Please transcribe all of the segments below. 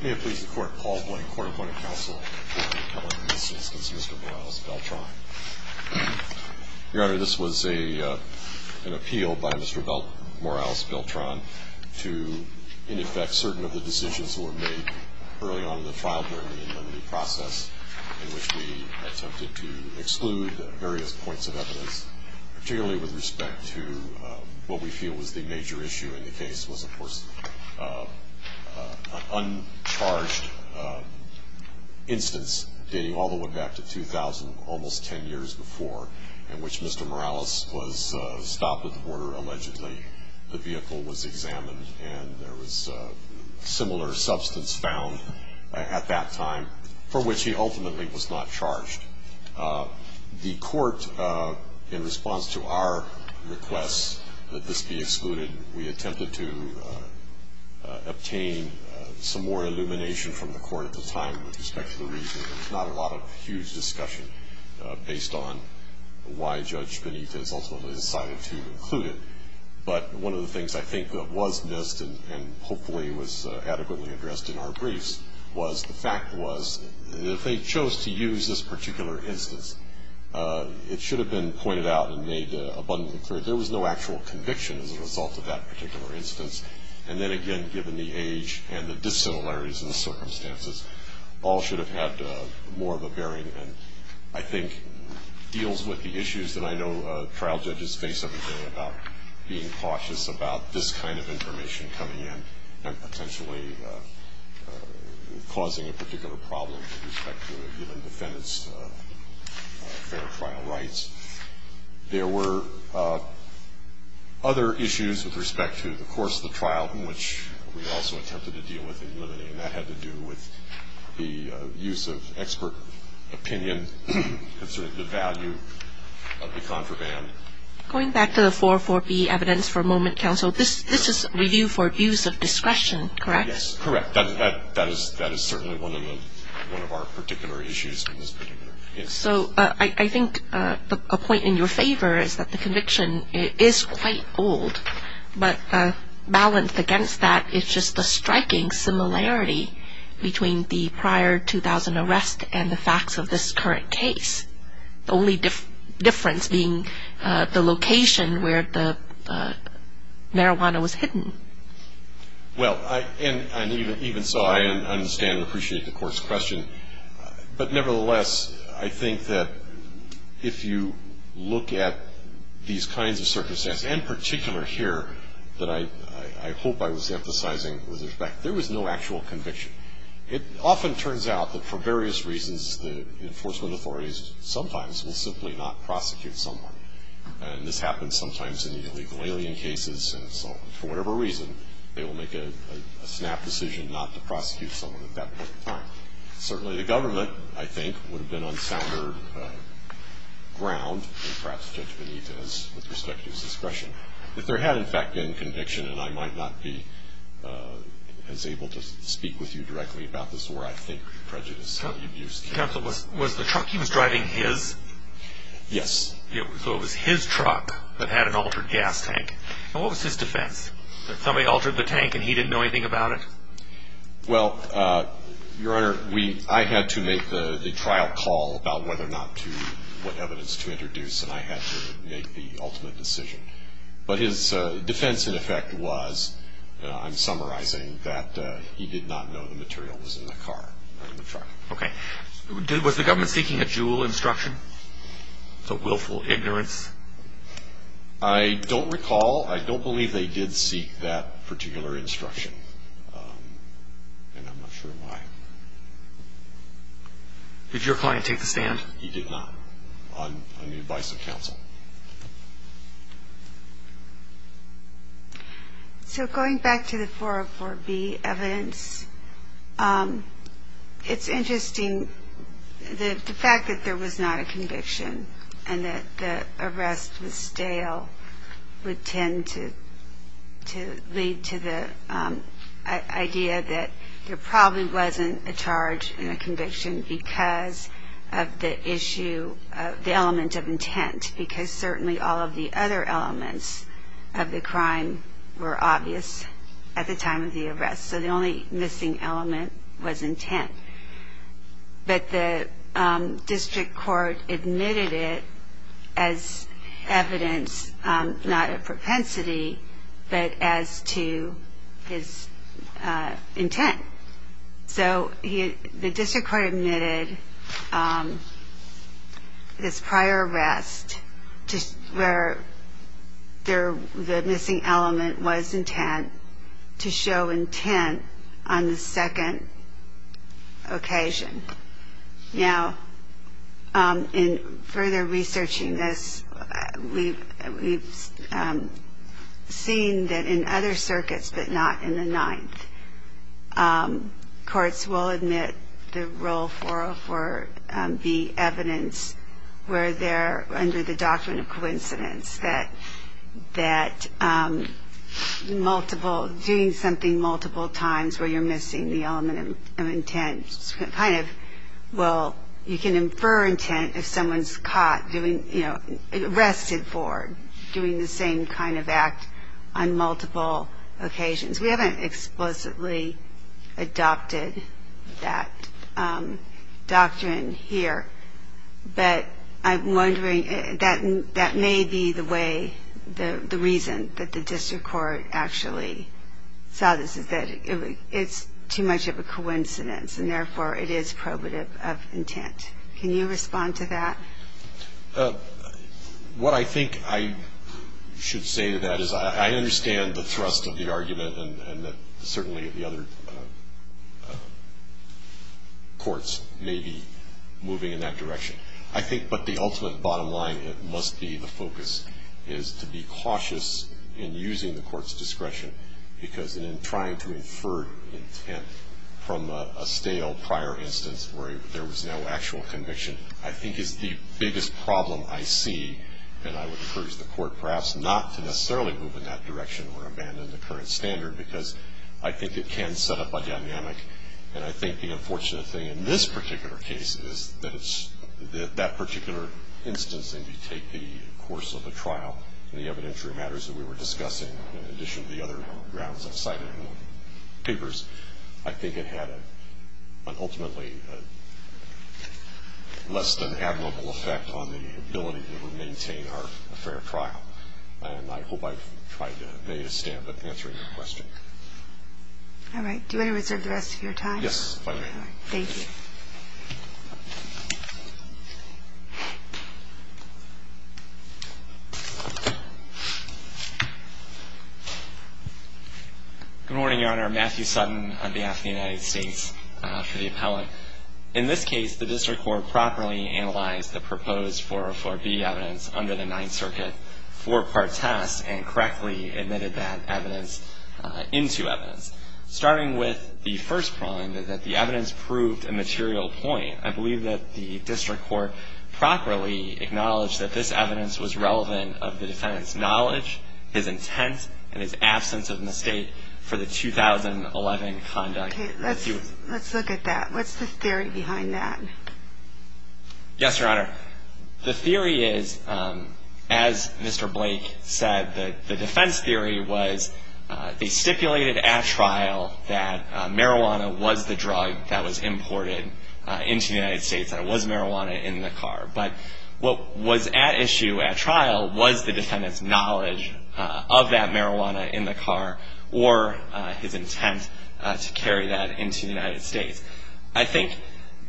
Your Honor, this was an appeal by Mr. Morales Beltran to, in effect, certain of the decisions that were made early on in the trial during the in-memory process, in which we attempted to exclude various points of evidence, particularly with respect to what we feel was the major issue in the case was, of course, an uncharged instance dating all the way back to 2000, almost ten years before, in which Mr. Morales was stopped at the border, allegedly. The vehicle was examined, and there was similar substance found at that time, for which he attempted to obtain some more illumination from the court at the time with respect to the reason. There's not a lot of huge discussion based on why Judge Benitez ultimately decided to include it, but one of the things I think was missed, and hopefully was adequately addressed in our briefs, was the fact was that if they chose to use this particular instance, it should have been pointed out and made abundantly clear. There was no actual conviction as a particular instance. And then again, given the age and the dissimilarities in the circumstances, all should have had more of a bearing and, I think, deals with the issues that I know trial judges face every day about being cautious about this kind of information coming in and potentially causing a particular problem with respect to a given defendant's fair trial rights. There were other issues with respect to the course of the trial, which we also attempted to deal with and eliminate, and that had to do with the use of expert opinion concerning the value of the contraband. Going back to the 4.4b evidence for a moment, counsel, this is review for abuse of discretion, correct? Yes, correct. That is certainly one of our particular issues in this particular instance. So I think a point in your favor is that the conviction is quite old, but balanced against that is just the striking similarity between the prior 2,000 arrests and the facts of this current case. The only difference being the location where the marijuana was hidden. Well, and even so, I understand and appreciate the court's question, but nevertheless, I think that if you look at these kinds of circumstances, in particular here that I hope I was emphasizing with respect, there was no actual conviction. It often turns out that for various reasons, the enforcement authorities sometimes will simply not prosecute someone. And this happens sometimes in the illegal alien cases, and so for whatever reason, they will make a snap decision not to prosecute someone at that point in time. Certainly the government, I think, would have been on sounder ground, and perhaps Judge Benita, with respect to his discretion, if there had, in fact, been conviction, and I might not be as able to speak with you directly about this, where I think prejudice and abuse can be. Counsel, was the truck he was driving his? Yes. So it was his truck that had an altered gas tank. And what was his defense? That somebody altered the tank and he didn't know anything about it? Well, Your Honor, I had to make the trial call about whether or not to, what evidence to introduce, and I had to make the ultimate decision. But his defense, in effect, was, I'm summarizing, that he did not know the material was in the car or in the truck. Okay. Was the government seeking a jewel instruction? The willful ignorance? I don't recall. I don't believe they did seek that particular instruction, and I'm not sure why. Did your client take the stand? So, going back to the 404B evidence, it's interesting, the fact that there was not a conviction, and that the arrest was stale, would tend to lead to the idea that there probably wasn't a charge and a conviction because of the issue, the element of intent. Because certainly all of the other elements of the crime were obvious at the time of the arrest. So the only missing element was intent. But the district court admitted it as evidence not of propensity, but as to his intent. So the district court admitted his prior arrest where the missing element was intent to show intent on the second occasion. Now, in further researching this, we've seen that in other circuits, but not in the Ninth, courts will admit the role of 404B evidence where they're under the doctrine of coincidence, that multiple, doing something multiple times where you're missing the element of intent kind of will, you can infer intent if someone's caught doing, you know, arrested for doing the same kind of act on multiple occasions. We haven't explicitly adopted that doctrine here, but I'm wondering, that may be the way, the reason that the district court actually saw this is that it's too much of a coincidence, and therefore it is probative of intent. Can you respond to that? What I think I should say to that is I understand the thrust of the argument, and that certainly the other courts may be moving in that direction. I think, but the ultimate bottom line, it must be the focus is to be cautious in using the court's discretion, because in trying to infer intent from a stale prior instance where there was no actual conviction, I think is the biggest problem I see, and I would encourage the court perhaps not to necessarily move in that direction or abandon the current standard, because I think it can set up a dynamic, and I think the unfortunate thing in this particular case is that it's, that particular instance, if you take the course of the trial and the evidentiary matters that we were discussing, in addition to the other grounds I've cited in the papers, I think it had an ultimately less than admirable effect on the ability to maintain our fair trial, and I hope I've made a stamp at answering your question. All right. Do you want to reserve the rest of your time? Yes, if I may. All right. Thank you. Good morning, Your Honor. Matthew Sutton on behalf of the United States for the Appellate. In this case, the District Court properly analyzed the proposed 404B evidence under the Ninth Circuit four-part test and correctly admitted that evidence into evidence. Starting with the first crime, that the evidence proved a material point, I believe that the District Court properly acknowledged that this evidence was relevant of the defendant's knowledge, his intent, and his absence of mistake for the 2011 conduct. Okay. Let's look at that. What's the theory behind that? Yes, Your Honor. The theory is, as Mr. Blake said, the defense theory was they stipulated at trial that marijuana was the drug that was imported into the United States and it was marijuana in the car. But what was at issue at trial was the defendant's knowledge of that marijuana in the car or his intent to carry that into the United States. I think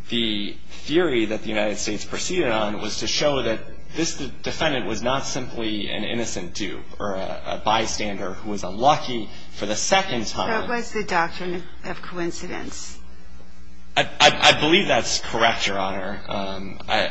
the theory that the United States proceeded on was to show that this defendant was not simply an innocent dupe or a bystander who was unlucky for the second time. That was the doctrine of coincidence. I believe that's correct, Your Honor,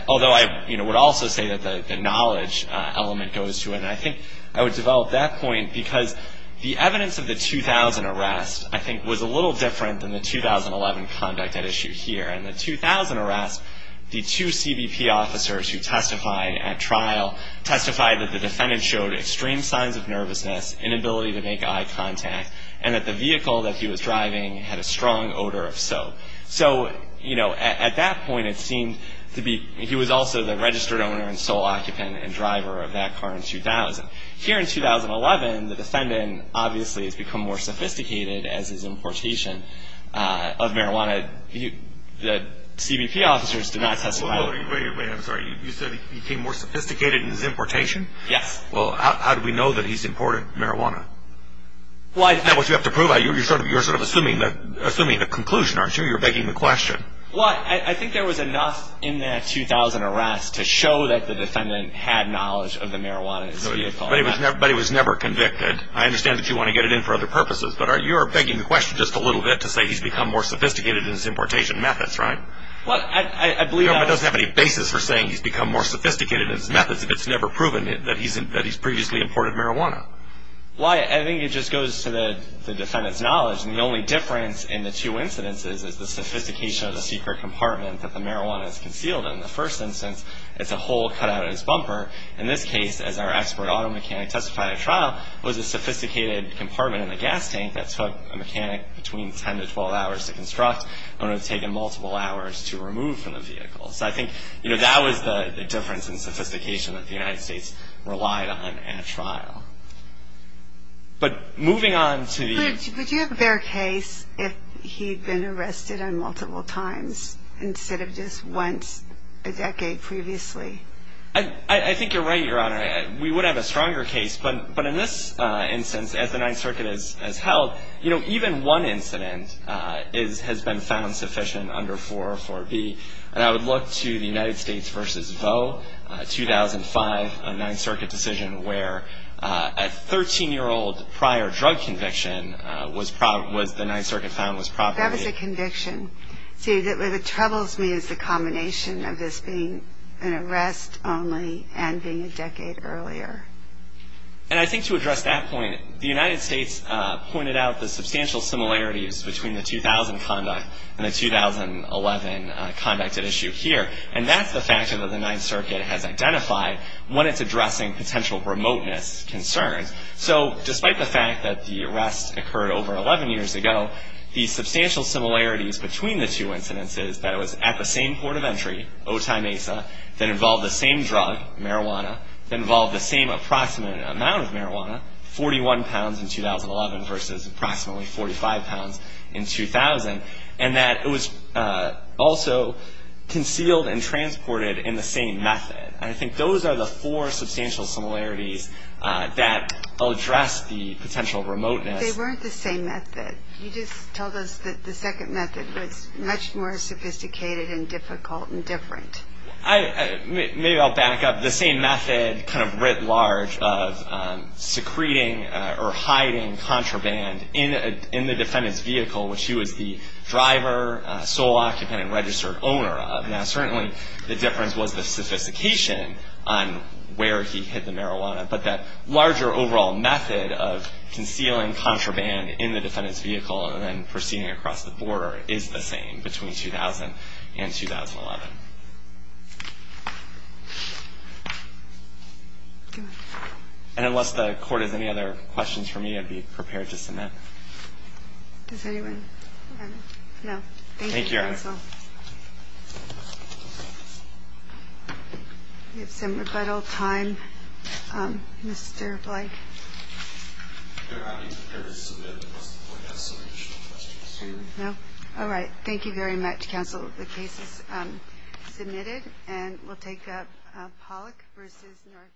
although I would also say that the knowledge element goes to it. And I think I would develop that point because the evidence of the 2000 arrest, I think, was a little different than the 2011 conduct at issue here. And the 2000 arrest, the two CBP officers who testified at trial testified that the defendant showed extreme signs of nervousness, inability to make eye contact, and that the vehicle that he was driving had a strong odor of soap. So, you know, at that point it seemed to be he was also the registered owner and sole occupant and driver of that car in 2000. Here in 2011, the defendant obviously has become more sophisticated as his importation of marijuana. The CBP officers did not testify. Wait, wait, wait. I'm sorry. You said he became more sophisticated in his importation? Yes. Well, how do we know that he's imported marijuana? Well, I think... That's what you have to prove. You're sort of assuming the conclusion, aren't you? You're begging the question. Well, I think there was enough in that 2000 arrest to show that the defendant had knowledge of the marijuana in his vehicle. But he was never convicted. I understand that you want to get it in for other purposes, but you're begging the question just a little bit to say he's become more sophisticated in his importation methods, right? Well, I believe... The government doesn't have any basis for saying he's become more sophisticated in his methods if it's never proven that he's previously imported marijuana. Well, I think it just goes to the defendant's knowledge. And the only difference in the two incidences is the sophistication of the secret compartment that the marijuana is concealed in. In the first instance, it's a hole cut out of his bumper. In this case, as our expert auto mechanic testified at trial, it was a sophisticated compartment in the gas tank that took a mechanic between 10 to 12 hours to construct and would have taken multiple hours to remove from the vehicle. So I think that was the difference in sophistication that the United States relied on at trial. But moving on to the... But would you have a fair case if he'd been arrested on multiple times instead of just once a decade previously? I think you're right, Your Honor. We would have a stronger case. But in this instance, as the Ninth Circuit has held, you know, even one incident has been found sufficient under 404B. And I would look to the United States v. Vaux, 2005, a Ninth Circuit decision where a 13-year-old prior drug conviction was the Ninth Circuit found was properly... And being a decade earlier. And I think to address that point, the United States pointed out the substantial similarities between the 2000 conduct and the 2011 conduct at issue here. And that's the factor that the Ninth Circuit has identified when it's addressing potential remoteness concerns. So despite the fact that the arrest occurred over 11 years ago, the substantial similarities between the two incidents is that it was at the same port of entry, Otay Mesa, that involved the same drug, marijuana, that involved the same approximate amount of marijuana, 41 pounds in 2011 versus approximately 45 pounds in 2000, and that it was also concealed and transported in the same method. And I think those are the four substantial similarities that address the potential remoteness. But they weren't the same method. You just told us that the second method was much more sophisticated and difficult and different. Maybe I'll back up. The same method, kind of writ large, of secreting or hiding contraband in the defendant's vehicle, which he was the driver, sole occupant, and registered owner of. Now, certainly the difference was the sophistication on where he hid the marijuana. But that larger overall method of concealing contraband in the defendant's vehicle and then proceeding across the border is the same between 2000 and 2011. And unless the Court has any other questions for me, I'd be prepared to submit. Does anyone have any? No? Thank you, Counsel. We have some rebuttal time, Mr. Blake. No? All right. Thank you very much, Counsel. The case is submitted, and we'll take Pollack versus North...